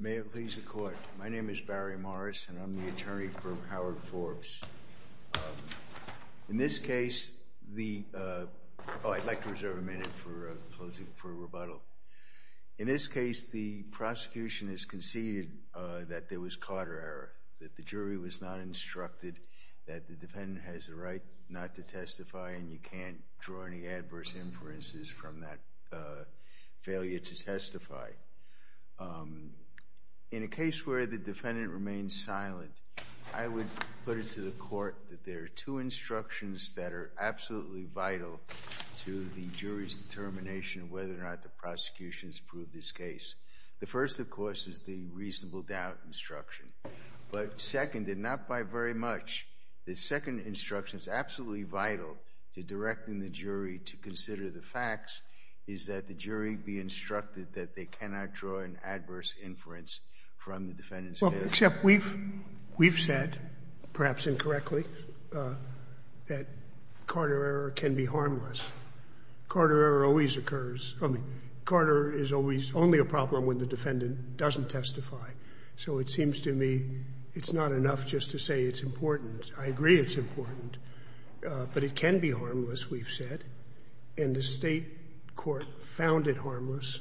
May it please the court. My name is Barry Morris, and I'm the attorney for Howard Forbes. In this case, the, oh, I'd like to reserve a minute for a rebuttal. In this case, the prosecution has conceded that there was caught error, that the jury was not instructed, that the defendant has the right not to testify, and you can't draw any adverse inferences from that failure to testify. In a case where the defendant remains silent, I would put it to the court that there are two instructions that are absolutely vital to the jury's determination of whether or not the prosecution has proved this case. The first, of course, is the reasonable doubt instruction. But second, and not by very much, the second instruction that's absolutely vital to directing the jury to consider the facts is that the jury be instructed that they cannot draw an adverse inference from the defendant's case. Well, except we've said, perhaps incorrectly, that Carter error can be harmless. Carter error always occurs. I mean, Carter is always only a problem when the defendant doesn't testify. So it seems to me it's not enough just to say it's important. I agree it's important, but it can be harmless, we've said. And the State court found it harmless,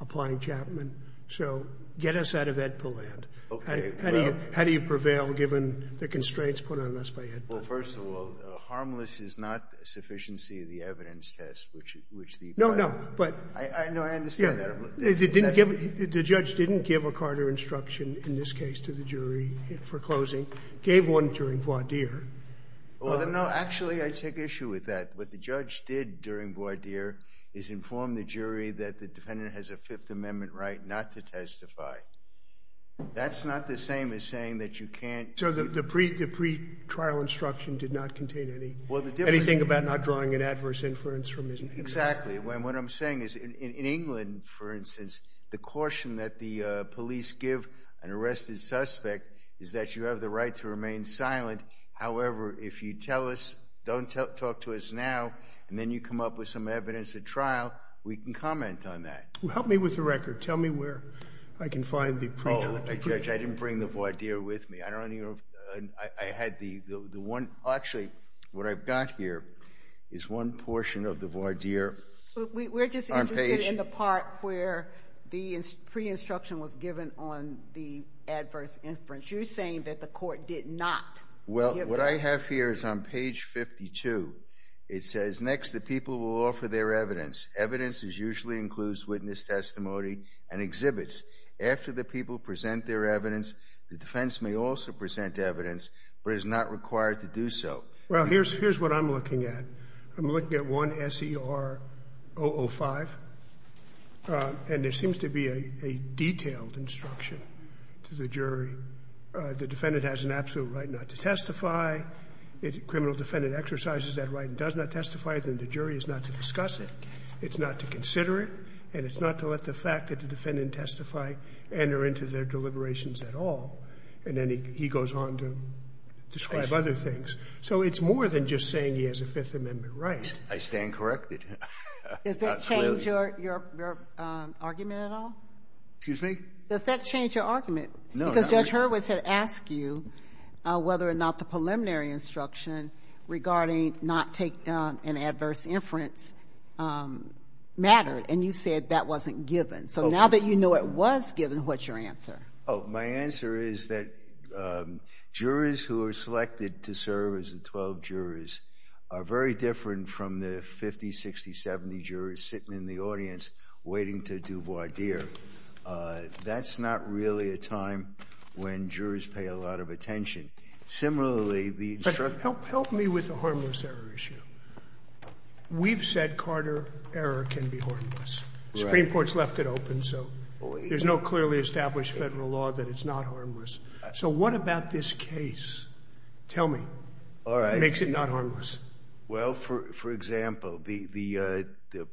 applying Chapman. So get us out of AEDPA land. How do you prevail given the constraints put on us by AEDPA? Well, first of all, harmless is not a sufficiency of the evidence test, which the plaintiff No, no, but No, I understand that. The judge didn't give a Carter instruction, in this case, to the jury for closing. Gave one during voir dire. Well, no, actually, I take issue with that. What the judge did during voir dire is inform the jury that the defendant has a Fifth Amendment right not to testify. That's not the same as saying that you can't So the pre-trial instruction did not contain anything about not drawing an adverse inference from his case. Exactly. And what I'm saying is, in England, for instance, the caution that the police give an arrested suspect is that you have the right to remain silent. However, if you tell us, don't talk to us now, and then you come up with some evidence at trial, we can comment on that. Help me with the record. Tell me where I can find the pre-trial instruction. Judge, I didn't bring the voir dire with me. I had the one, actually, what I've got here is one portion of the voir dire on page We're just interested in the part where the pre-instruction was given on the adverse inference. You're saying that the court did not Well, what I have here is on page 52. It says, next, the people will offer their evidence. Evidence is usually includes witness testimony and exhibits. After the people present their evidence, the defense may also present evidence, but is not required to do so. Well, here's what I'm looking at. I'm looking at one SER005, and there seems to be a detailed instruction to the jury. The defendant has an absolute right not to testify. If the criminal defendant exercises that right and does not testify, then the jury is not to discuss it. It's not to consider it, and it's not to let the fact that the defendant testified enter into their deliberations at all. And then he goes on to describe other things. So it's more than just saying he has a Fifth Amendment right. I stand corrected. Does that change your argument at all? Excuse me? Does that change your argument? Because Judge Hurwitz had asked you whether or not the preliminary instruction regarding not to take an adverse inference mattered, and you said that wasn't given. So now that you know it was given, what's your answer? Oh, my answer is that jurors who are selected to serve as the 12 jurors are very different from the 50, 60, 70 jurors sitting in the audience waiting to do voir dire. That's not really a time when jurors pay a lot of attention. Similarly, the instruction But help me with the harmless error issue. We've said Carter error can be harmless. Supreme Court's left it open, so there's no clearly established federal law that it's not harmless. So what about this case? Tell me what makes it not harmless. Well, for example, the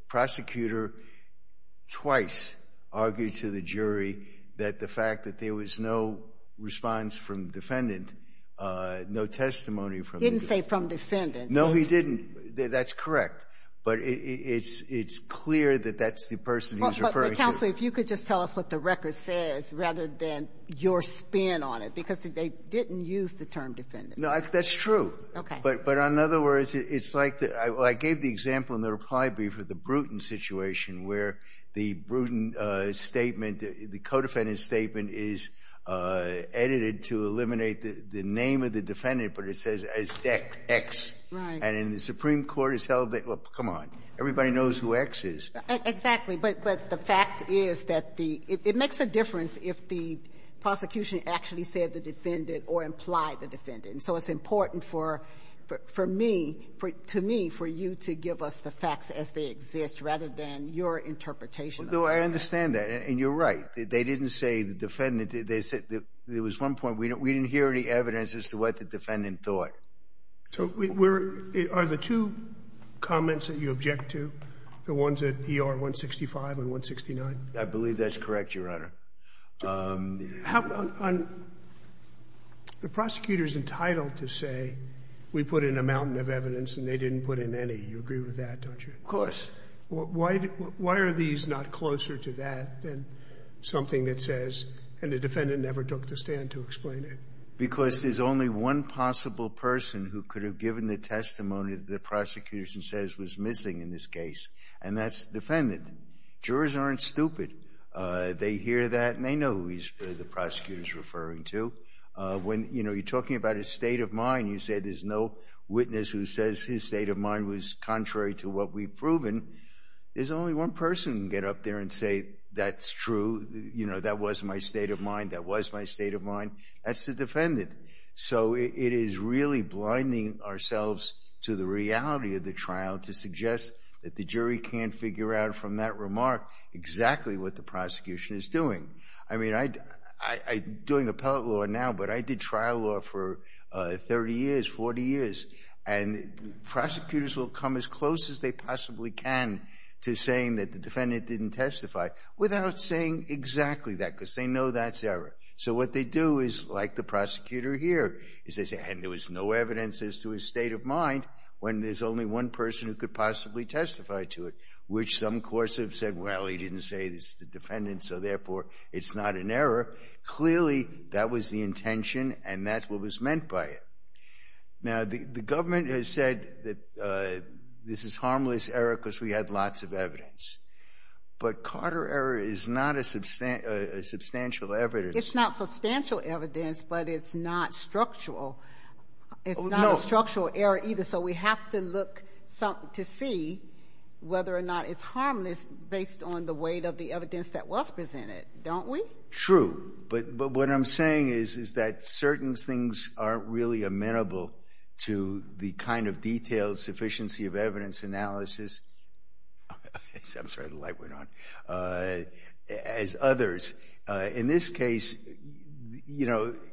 prosecutor twice argued to the jury that the fact that there was no response from defendant, no testimony from the defendant. He didn't say from defendant. No, he didn't. That's correct. But it's clear that that's the person he was referring to. But counsel, if you could just tell us what the record says rather than your spin on it, because they didn't use the term defendant. No, that's true. But in other words, it's like I gave the example in the reply brief of the Bruton situation where the Bruton statement, the co-defendant's statement is edited to eliminate the name of the defendant, but it says ex, and in the Supreme Court it's held that, well, come on, everybody knows who ex is. Exactly. But the fact is that it makes a difference if the prosecution actually said the defendant or implied the defendant. And so it's important for me, to me, for you to give us the facts as they exist, rather than your interpretation of it. No, I understand that. And you're right. They didn't say the defendant. They said there was one point we didn't hear any evidence as to what the defendant thought. So are the two comments that you object to the ones at ER-165 and 169? I believe that's correct, Your Honor. The prosecutor's entitled to say we put in a mountain of evidence and they didn't put in any. You agree with that, don't you? Of course. Why are these not closer to that than something that says, and the defendant never took the stand to explain it? Because there's only one possible person who could have given the testimony that the prosecution says was missing in this case, and that's the defendant. Jurors aren't stupid. They hear that and they know who the prosecutor's referring to. When you're talking about his state of mind, you say there's no witness who says his state of mind was contrary to what we've proven. There's only one person who can get up there and say, that's true. That was my state of mind. That was my state of mind. That's the defendant. So it is really blinding ourselves to the reality of the trial to suggest that the jury can't figure out from that remark exactly what the prosecution is doing. I mean, I'm doing appellate law now, but I did trial law for 30 years, 40 years. And prosecutors will come as close as they possibly can to saying that the defendant didn't testify without saying exactly that, because they know that's error. So what they do is, like the prosecutor here, is they say, and there was no evidence as to his state of mind when there's only one person who could possibly testify to it, which some courts have said, well, he didn't say it's the defendant, so therefore it's not an error. Clearly, that was the intention, and that's what was meant by it. Now, the government has said that this is harmless error because we had lots of evidence. But Carter error is not a substantial evidence. It's not substantial evidence, but it's not structural. It's not a structural error either. So we have to look to see whether or not it's harmless based on the weight of the evidence that was presented, don't we? True. But what I'm saying is that certain things aren't really amenable to the kind of detailed sufficiency of evidence analysis, I'm sorry, the light went on, as others. In this case, the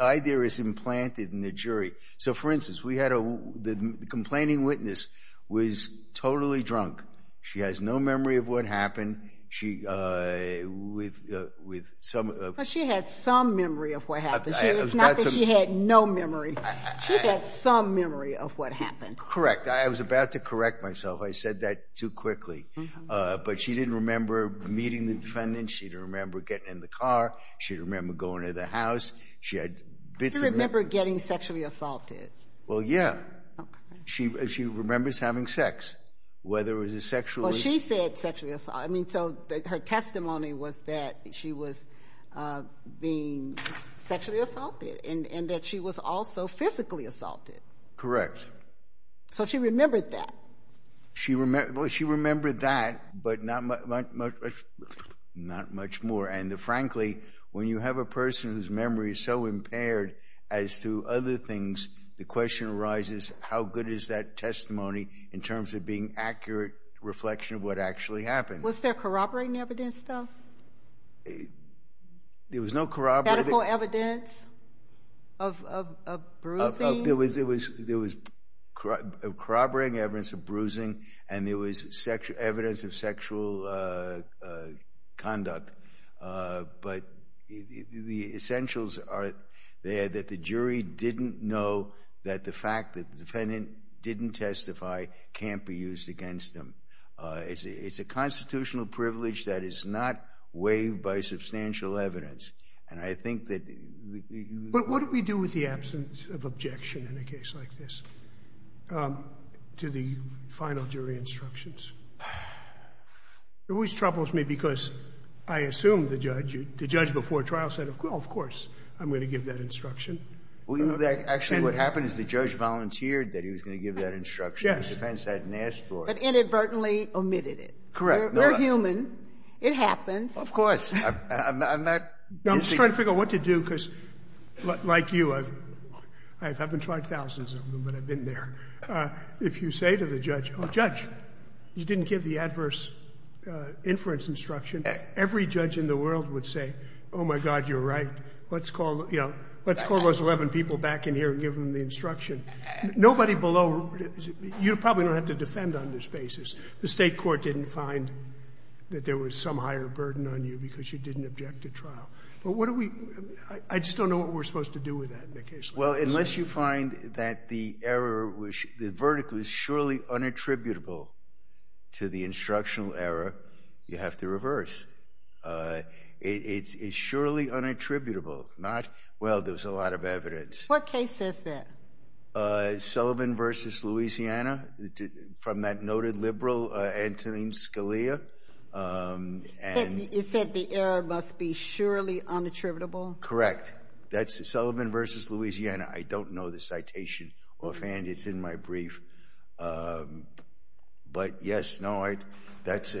idea is implanted in the jury. So for instance, the complaining witness was totally drunk. She has no memory of what happened with some of the- It's not that she had no memory. She had some memory of what happened. Correct. I was about to correct myself. I said that too quickly. But she didn't remember meeting the defendant. She didn't remember getting in the car. She didn't remember going to the house. She had bits of- She didn't remember getting sexually assaulted. Well, yeah. She remembers having sex, whether it was a sexually- Well, she said sexually assaulted. So her testimony was that she was being sexually assaulted and that she was also physically assaulted. Correct. So she remembered that. She remembered that, but not much more. And frankly, when you have a person whose memory is so impaired as to other things, the question arises, how good is that testimony in terms of being accurate reflection of what actually happened? Was there corroborating evidence, though? There was no corroborating- Medical evidence of bruising? There was corroborating evidence of bruising, and there was evidence of sexual conduct. But the essentials are there that the jury didn't know that the fact that the defendant didn't testify can't be used against them. It's a constitutional privilege that is not waived by substantial evidence. And I think that- But what do we do with the absence of objection in a case like this to the final jury instructions? It always troubles me because I assume the judge before trial said, of course, I'm going to give that instruction. Actually, what happened is the judge volunteered that he was going to give that instruction. Yes. The defense hadn't asked for it. But inadvertently omitted it. Correct. We're human. It happens. Of course. I'm not- I'm just trying to figure out what to do because, like you, I haven't tried thousands of them, but I've been there. If you say to the judge, oh, judge, you didn't give the adverse inference instruction, every judge in the world would say, oh, my God, you're right. Let's call, you know, let's call those 11 people back in here and give them the instruction. Nobody below, you probably don't have to defend on this basis. The state court didn't find that there was some higher burden on you because you didn't object to trial. But what do we, I just don't know what we're supposed to do with that in a case like this. Well, unless you find that the error, the verdict was surely unattributable to the instructional error, you have to reverse. It's surely unattributable, not, well, there's a lot of evidence. What case is that? Sullivan versus Louisiana, from that noted liberal, Antonin Scalia. You said the error must be surely unattributable? Correct. That's Sullivan versus Louisiana. I don't know the citation offhand. It's in my brief. But yes, no, that's,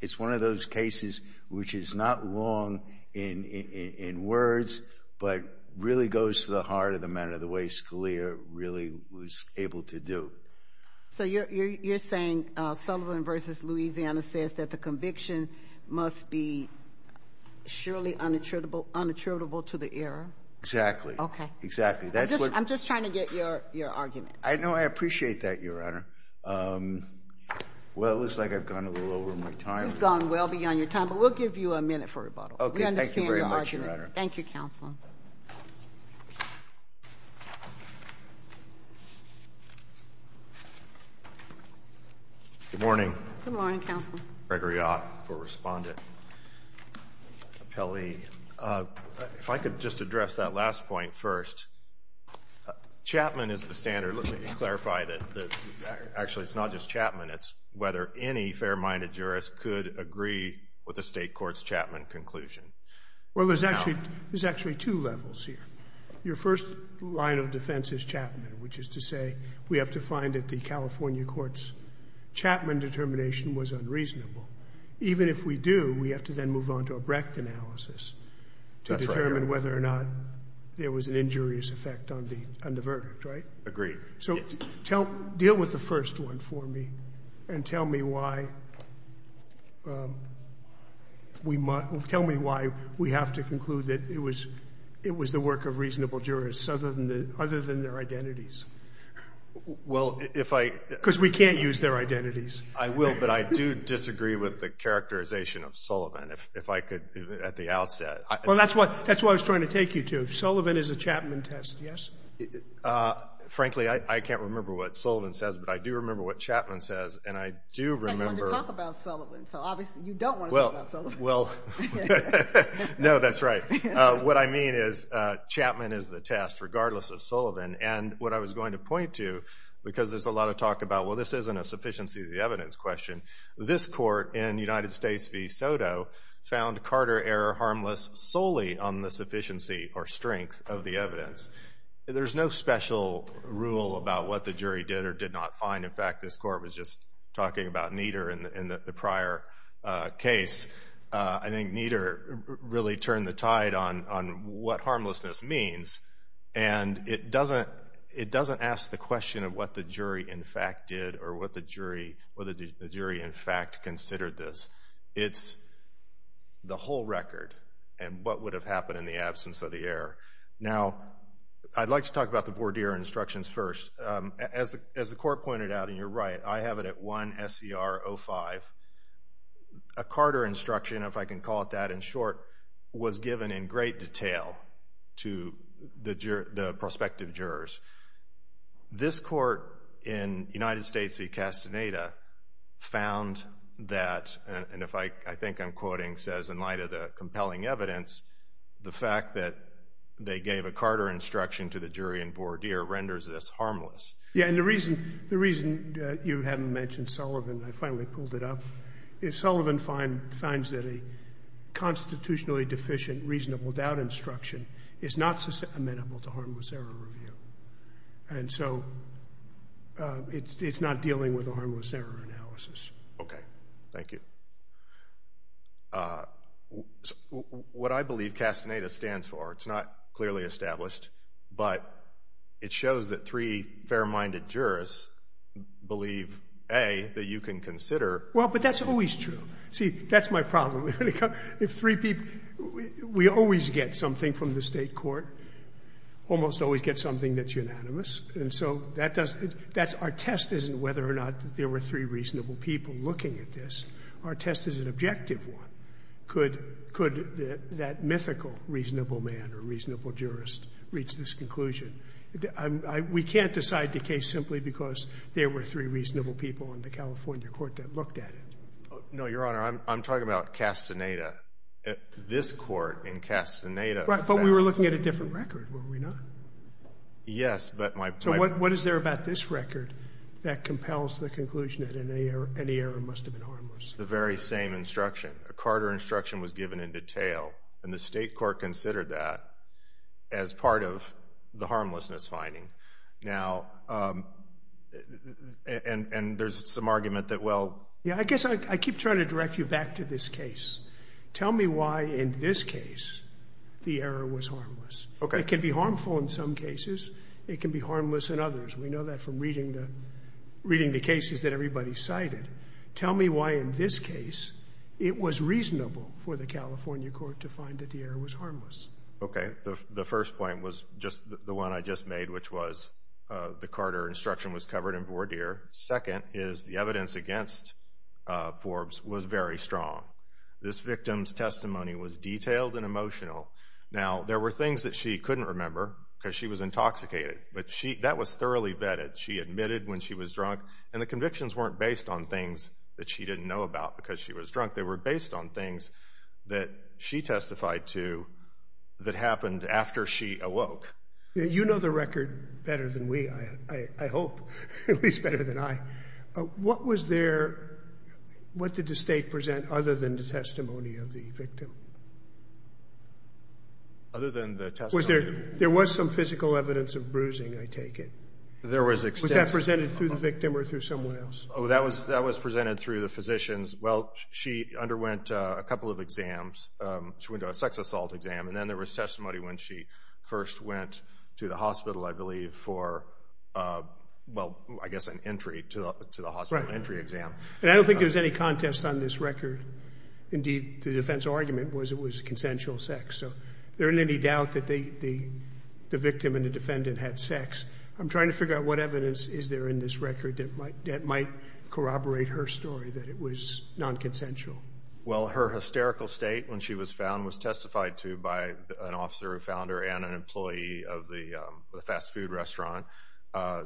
it's one of those cases which is not long in words, but really goes to the heart of the matter, the way Scalia really was able to do. So you're saying Sullivan versus Louisiana says that the conviction must be surely unattributable to the error? Exactly. Exactly. I'm just trying to get your argument. I know. I appreciate that, Your Honor. Well, it looks like I've gone a little over my time. You've gone well beyond your time. But we'll give you a minute for rebuttal. OK, thank you very much, Your Honor. Thank you, Counsel. Good morning. Good morning, Counsel. Gregory Ott for Respondent. Kelly, if I could just address that last point first. Chapman is the standard. Let me clarify that, actually, it's not just Chapman. It's whether any fair-minded jurist could agree with the state court's Chapman conclusion. Well, there's actually two levels here. Your first line of defense is Chapman, which is to say we have to find that the California court's Chapman determination was unreasonable. Even if we do, we have to then move on to a Brecht analysis to determine whether or not there was an injurious effect on the verdict, right? Agreed. So deal with the first one for me and tell me why we have to conclude that it was the work of reasonable jurists other than their identities. Well, if I Because we can't use their identities. I will, but I do disagree with the characterization of Sullivan, if I could, at the outset. Well, that's what I was trying to take you to. Sullivan is a Chapman test, yes? Frankly, I can't remember what Sullivan says, but I do remember what Chapman says. And I do remember I wanted to talk about Sullivan, so obviously you don't want to talk about Sullivan. Well, no, that's right. What I mean is Chapman is the test, regardless of Sullivan. And what I was going to point to, because there's a lot of talk about, well, this isn't a sufficiency of the evidence question, this court in United States v. Soto found Carter error harmless solely on the sufficiency or strength of the evidence. There's no special rule about what the jury did or did not find. In fact, this court was just talking about Nieder in the prior case. I think Nieder really turned the tide on what harmlessness means. And it doesn't ask the question of what the jury, in fact, did or what the jury, in fact, considered this. It's the whole record and what would have happened in the absence of the error. Now, I'd like to talk about the voir dire instructions first. As the court pointed out, and you're right, I have it at 1 SCR 05. A Carter instruction, if I can call it that, in short, was given in great detail to the prospective jurors. This court in United States v. Castaneda found that, and if I think I'm quoting says in light of the compelling evidence, the fact that they gave a Carter instruction to the jury in voir dire renders this harmless. Yeah, and the reason you haven't mentioned Sullivan, I finally pulled it up, is Sullivan finds that a constitutionally deficient reasonable doubt instruction is not amenable to harmless error review. And so it's not dealing with a harmless error analysis. OK, thank you. What I believe Castaneda stands for, it's not clearly established, but it shows that three fair-minded jurists believe, A, that you can consider. Well, but that's always true. See, that's my problem. If three people, we always get something from the state court, almost always get something that's unanimous. And so our test isn't whether or not there were three reasonable people looking at this. Our test is an objective one. Could that mythical reasonable man or reasonable jurist reach this conclusion? We can't decide the case simply because there were three reasonable people in the California court that looked at it. No, Your Honor, I'm talking about Castaneda. This court in Castaneda found that. Right, but we were looking at a different record, were we not? Yes, but my point is. So what is there about this record that compels the conclusion that any error must have been harmless? The very same instruction. A Carter instruction was given in detail. And the state court considered that as part of the harmlessness finding. Now, and there's some argument that, well. Yeah, I guess I keep trying to direct you back to this case. Tell me why, in this case, the error was harmless. It can be harmful in some cases. It can be harmless in others. We know that from reading the cases that everybody cited. Tell me why, in this case, it was reasonable for the California court to find that the error was harmless. OK, the first point was just the one I just made, which was the Carter instruction was covered in voir dire. Second is the evidence against Forbes was very strong. This victim's testimony was detailed and emotional. Now, there were things that she couldn't remember because she was intoxicated. But that was thoroughly vetted. She admitted when she was drunk. And the convictions weren't based on things that she didn't know about because she was drunk. They were based on things that she testified to that happened after she awoke. You know the record better than we, I hope. At least better than I. What did the state present other than the testimony of the victim? Other than the testimony? There was some physical evidence of bruising, I take it. There was extensive. Was that presented through the victim or through someone else? Oh, that was presented through the physicians. Well, she underwent a couple of exams. She went to a sex assault exam. And then there was testimony when she first went to the hospital, I believe, for, well, I guess, an entry to the hospital, an entry exam. And I don't think there's any contest on this record. Indeed, the defense argument was it was consensual sex. So there isn't any doubt that the victim and the defendant had sex. I'm trying to figure out what evidence is there in this record that might corroborate her story that it was non-consensual. Well, her hysterical state when she was found was testified to by an officer who found her and an employee of the fast food restaurant.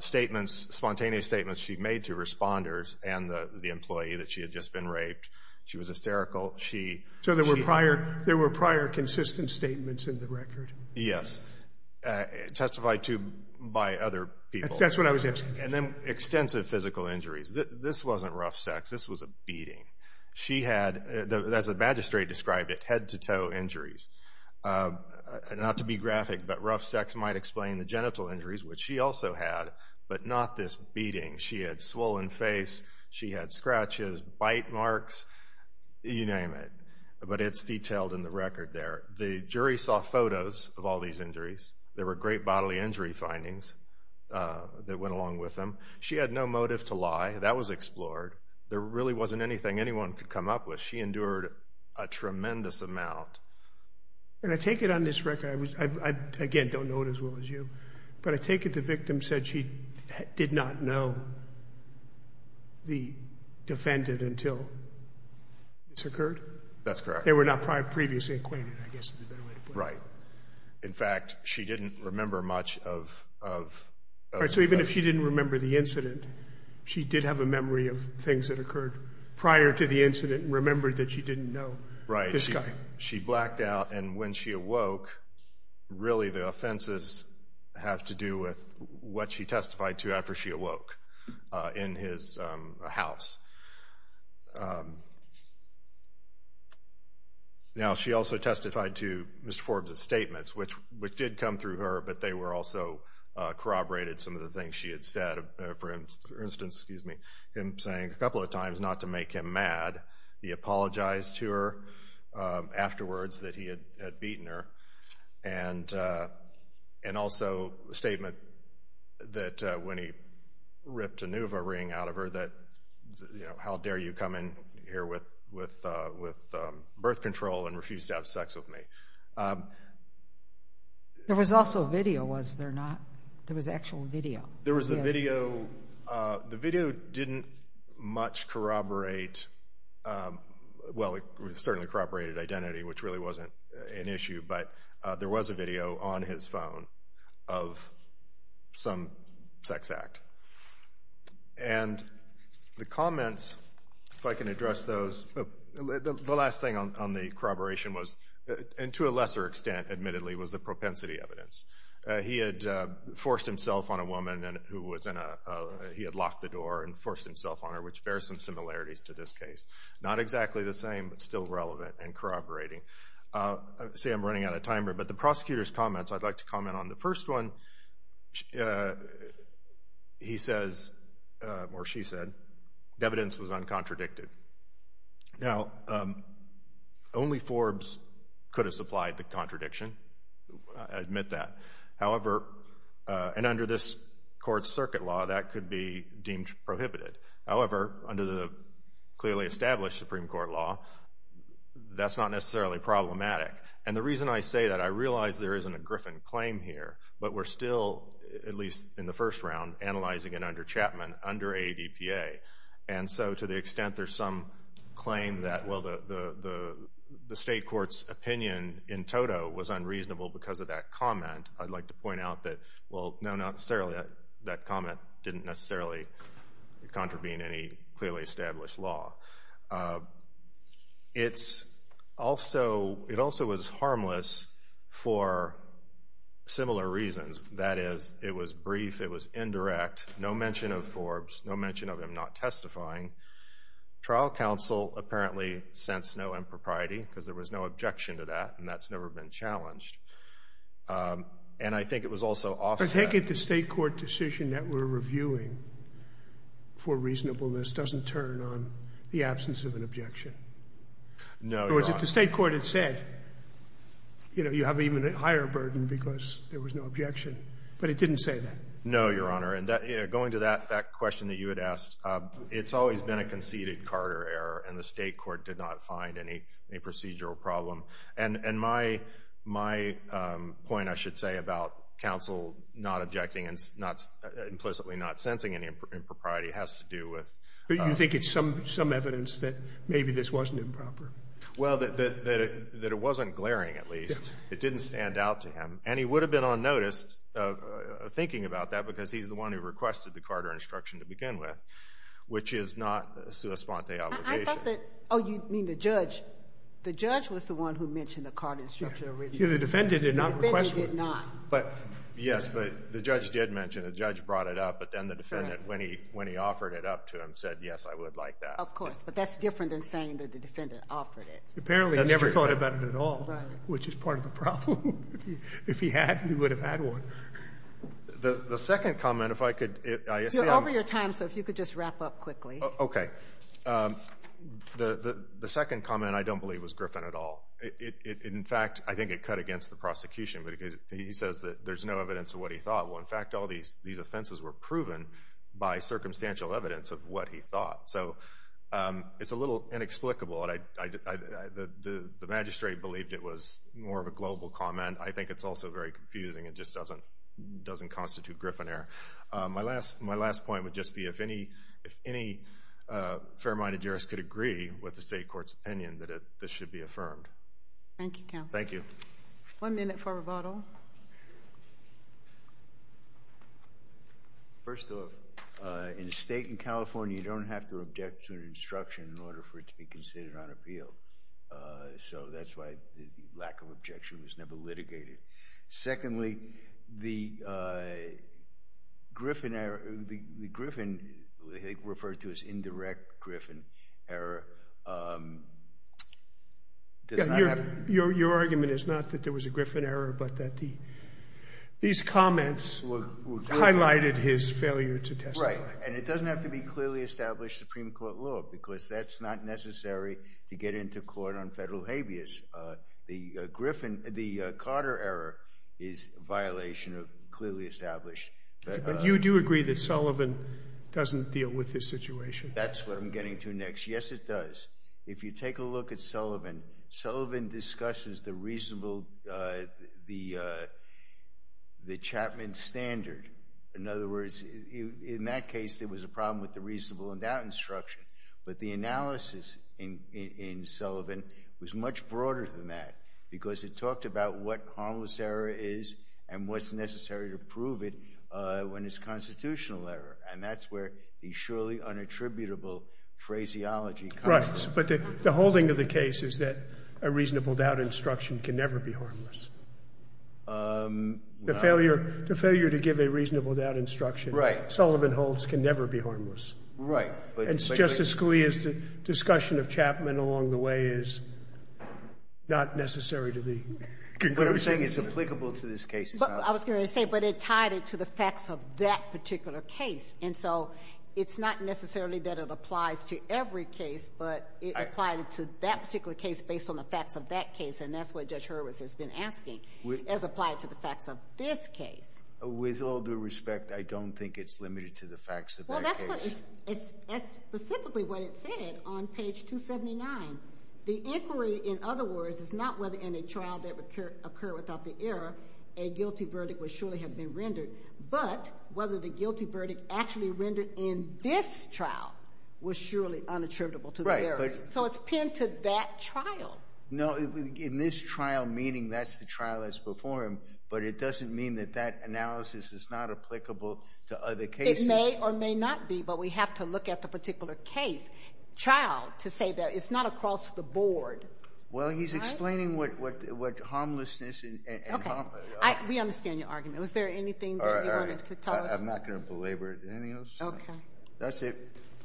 Statements, spontaneous statements she made to responders and the employee that she had just been raped. She was hysterical. So there were prior consistent statements in the record? Yes. Testified to by other people. That's what I was asking. And then extensive physical injuries. This wasn't rough sex. This was a beating. She had, as the magistrate described it, head-to-toe injuries. Not to be graphic, but rough sex might explain the genital injuries, which she also had, but not this beating. She had swollen face. She had scratches, bite marks, you name it. But it's detailed in the record there. The jury saw photos of all these injuries. There were great bodily injury findings that went along with them. She had no motive to lie. That was explored. There really wasn't anything anyone could come up with. She endured a tremendous amount. And I take it on this record, I, again, don't know it as well as you. But I take it the victim said she did not know the defendant until this occurred? That's correct. They were not previously acquainted, I guess, is the better way to put it. Right. In fact, she didn't remember much of that. So even if she didn't remember the incident, she did have a memory of things that occurred prior to the incident and remembered that she didn't know this guy. She blacked out. And when she awoke, really the offenses have to do with what she testified to after she awoke in his house. Now, she also testified to Mr. Forbes' statements, which did come through her, but they were also corroborated some of the things she had said. For instance, him saying a couple of times not to make him mad. He apologized to her afterwards that he had beaten her. And also a statement that when he ripped a Nuva ring out of her that, how dare you come in here with birth control and refuse to have sex with me. There was also video, was there not? There was actual video. There was a video. The video didn't much corroborate, well, it certainly corroborated identity, which really wasn't an issue. But there was a video on his phone of some sex act. And the comments, if I can address those. The last thing on the corroboration was, and to a lesser extent, admittedly, was the propensity evidence. He had forced himself on a woman who was in a, he had locked the door and forced himself on her, which bears some similarities to this case. Not exactly the same, but still relevant and corroborating. See, I'm running out of time here, but the prosecutor's comments, I'd like to comment on the first one. He says, or she said, the evidence was uncontradicted. Now, only Forbes could have supplied the contradiction. I admit that. However, and under this court's circuit law, that could be deemed prohibited. However, under the clearly established Supreme Court law, that's not necessarily problematic. And the reason I say that, I realize there isn't a Griffin claim here, but we're still, at least in the first round, analyzing it under Chapman, under ADPA. And so to the extent there's some claim that, well, the state court's opinion in toto was unreasonable because of that comment, I'd like to point out that, well, no, not necessarily. That comment didn't necessarily contravene any clearly established law. It also was harmless for similar reasons. That is, it was brief, it was indirect, no mention of Forbes, no mention of him not testifying. Trial counsel apparently sensed no impropriety because there was no objection to that, and that's never been challenged. And I think it was also offset. I take it the state court decision that we're reviewing for reasonableness doesn't turn on the absence of an objection. No, Your Honor. In other words, if the state court had said, you know, you have even a higher burden because there was no objection, but it didn't say that. No, Your Honor. And going to that question that you had asked, it's always been a conceded Carter error, and the state court did not find any procedural problem. And my point, I should say, about counsel not objecting and implicitly not sensing any impropriety has to do with... But you think it's some evidence that maybe this wasn't improper? Well, that it wasn't glaring, at least. It didn't stand out to him. And he would have been unnoticed thinking about that because he's the one who requested the Carter instruction to begin with, which is not a sua sponte obligation. I thought that... Oh, you mean the judge? The judge was the one who mentioned the Carter instruction originally. The defendant did not request one. The defendant did not. Yes, but the judge did mention it. The judge brought it up, but then the defendant, when he offered it up to him, said, yes, I would like that. Of course. But that's different than saying that the defendant offered it. Apparently he never thought about it at all, which is part of the problem. If he had, he would have had one. The second comment, if I could... You're over your time, so if you could just wrap up quickly. Okay. The second comment I don't believe was Griffin at all. In fact, I think it cut against the prosecution. He says that there's no evidence of what he thought. In fact, all these offenses were proven by circumstantial evidence of what he thought. So it's a little inexplicable. The magistrate believed it was more of a global comment. I think it's also very confusing. It just doesn't constitute Griffin error. My last point would just be if any fair-minded jurist could agree with the state court's opinion that this should be affirmed. Thank you, counsel. Thank you. One minute for rebuttal. First off, in a state in California, you don't have to object to an instruction in order for it to be considered on appeal. So that's why the lack of objection was never litigated. Secondly, the Griffin error, the Griffin referred to as indirect Griffin error... Your argument is not that there was a Griffin error, but that these comments highlighted his failure to testify. Right, and it doesn't have to be clearly established Supreme Court law, because that's not necessary to get into court on federal habeas. The Carter error is a violation of clearly established... But you do agree that Sullivan doesn't deal with this situation. That's what I'm getting to next. Yes, it does. If you take a look at Sullivan, Sullivan discusses the reasonable... the Chapman standard. In other words, in that case, there was a problem with the reasonable endowment instruction, but the analysis in Sullivan was much broader than that, because it talked about what harmless error is and what's necessary to prove it when it's constitutional error, and that's where the surely unattributable phraseology comes in. Right. But the holding of the case is that a reasonable endowment instruction can never be harmless. The failure to give a reasonable endowment instruction... Right. ...Sullivan holds can never be harmless. Right. And Justice Scalia's discussion of Chapman along the way is not necessary to the conclusion. What I'm saying is applicable to this case as well. I was going to say, but it tied into the facts of that particular case, and so it's not necessarily that it applies to every case, but it applied to that particular case based on the facts of that case, and that's what Judge Hurwitz has been asking, as applied to the facts of this case. With all due respect, I don't think it's limited to the facts of that case. Well, that's specifically what it said on page 279. The inquiry, in other words, is not whether in a trial that occurred without the error a guilty verdict would surely have been rendered, but whether the guilty verdict actually rendered in this trial was surely unattributable to the errors. Right. So it's pinned to that trial. No, in this trial, meaning that's the trial that's before him, but it doesn't mean that that analysis is not applicable to other cases. It may or may not be, but we have to look at the particular case. Trial, to say that it's not across the board. Well, he's explaining what harmlessness and... Okay. We understand your argument. Was there anything that you wanted to tell us? I'm not going to belabor anything else. Okay. That's it.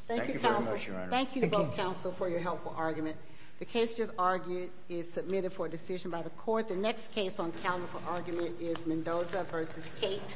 Thank you very much, Your Honor. Thank you to both counsel for your helpful argument. The case just argued is submitted for decision by the court. The next case on calendar for argument is Mendoza v. Cate.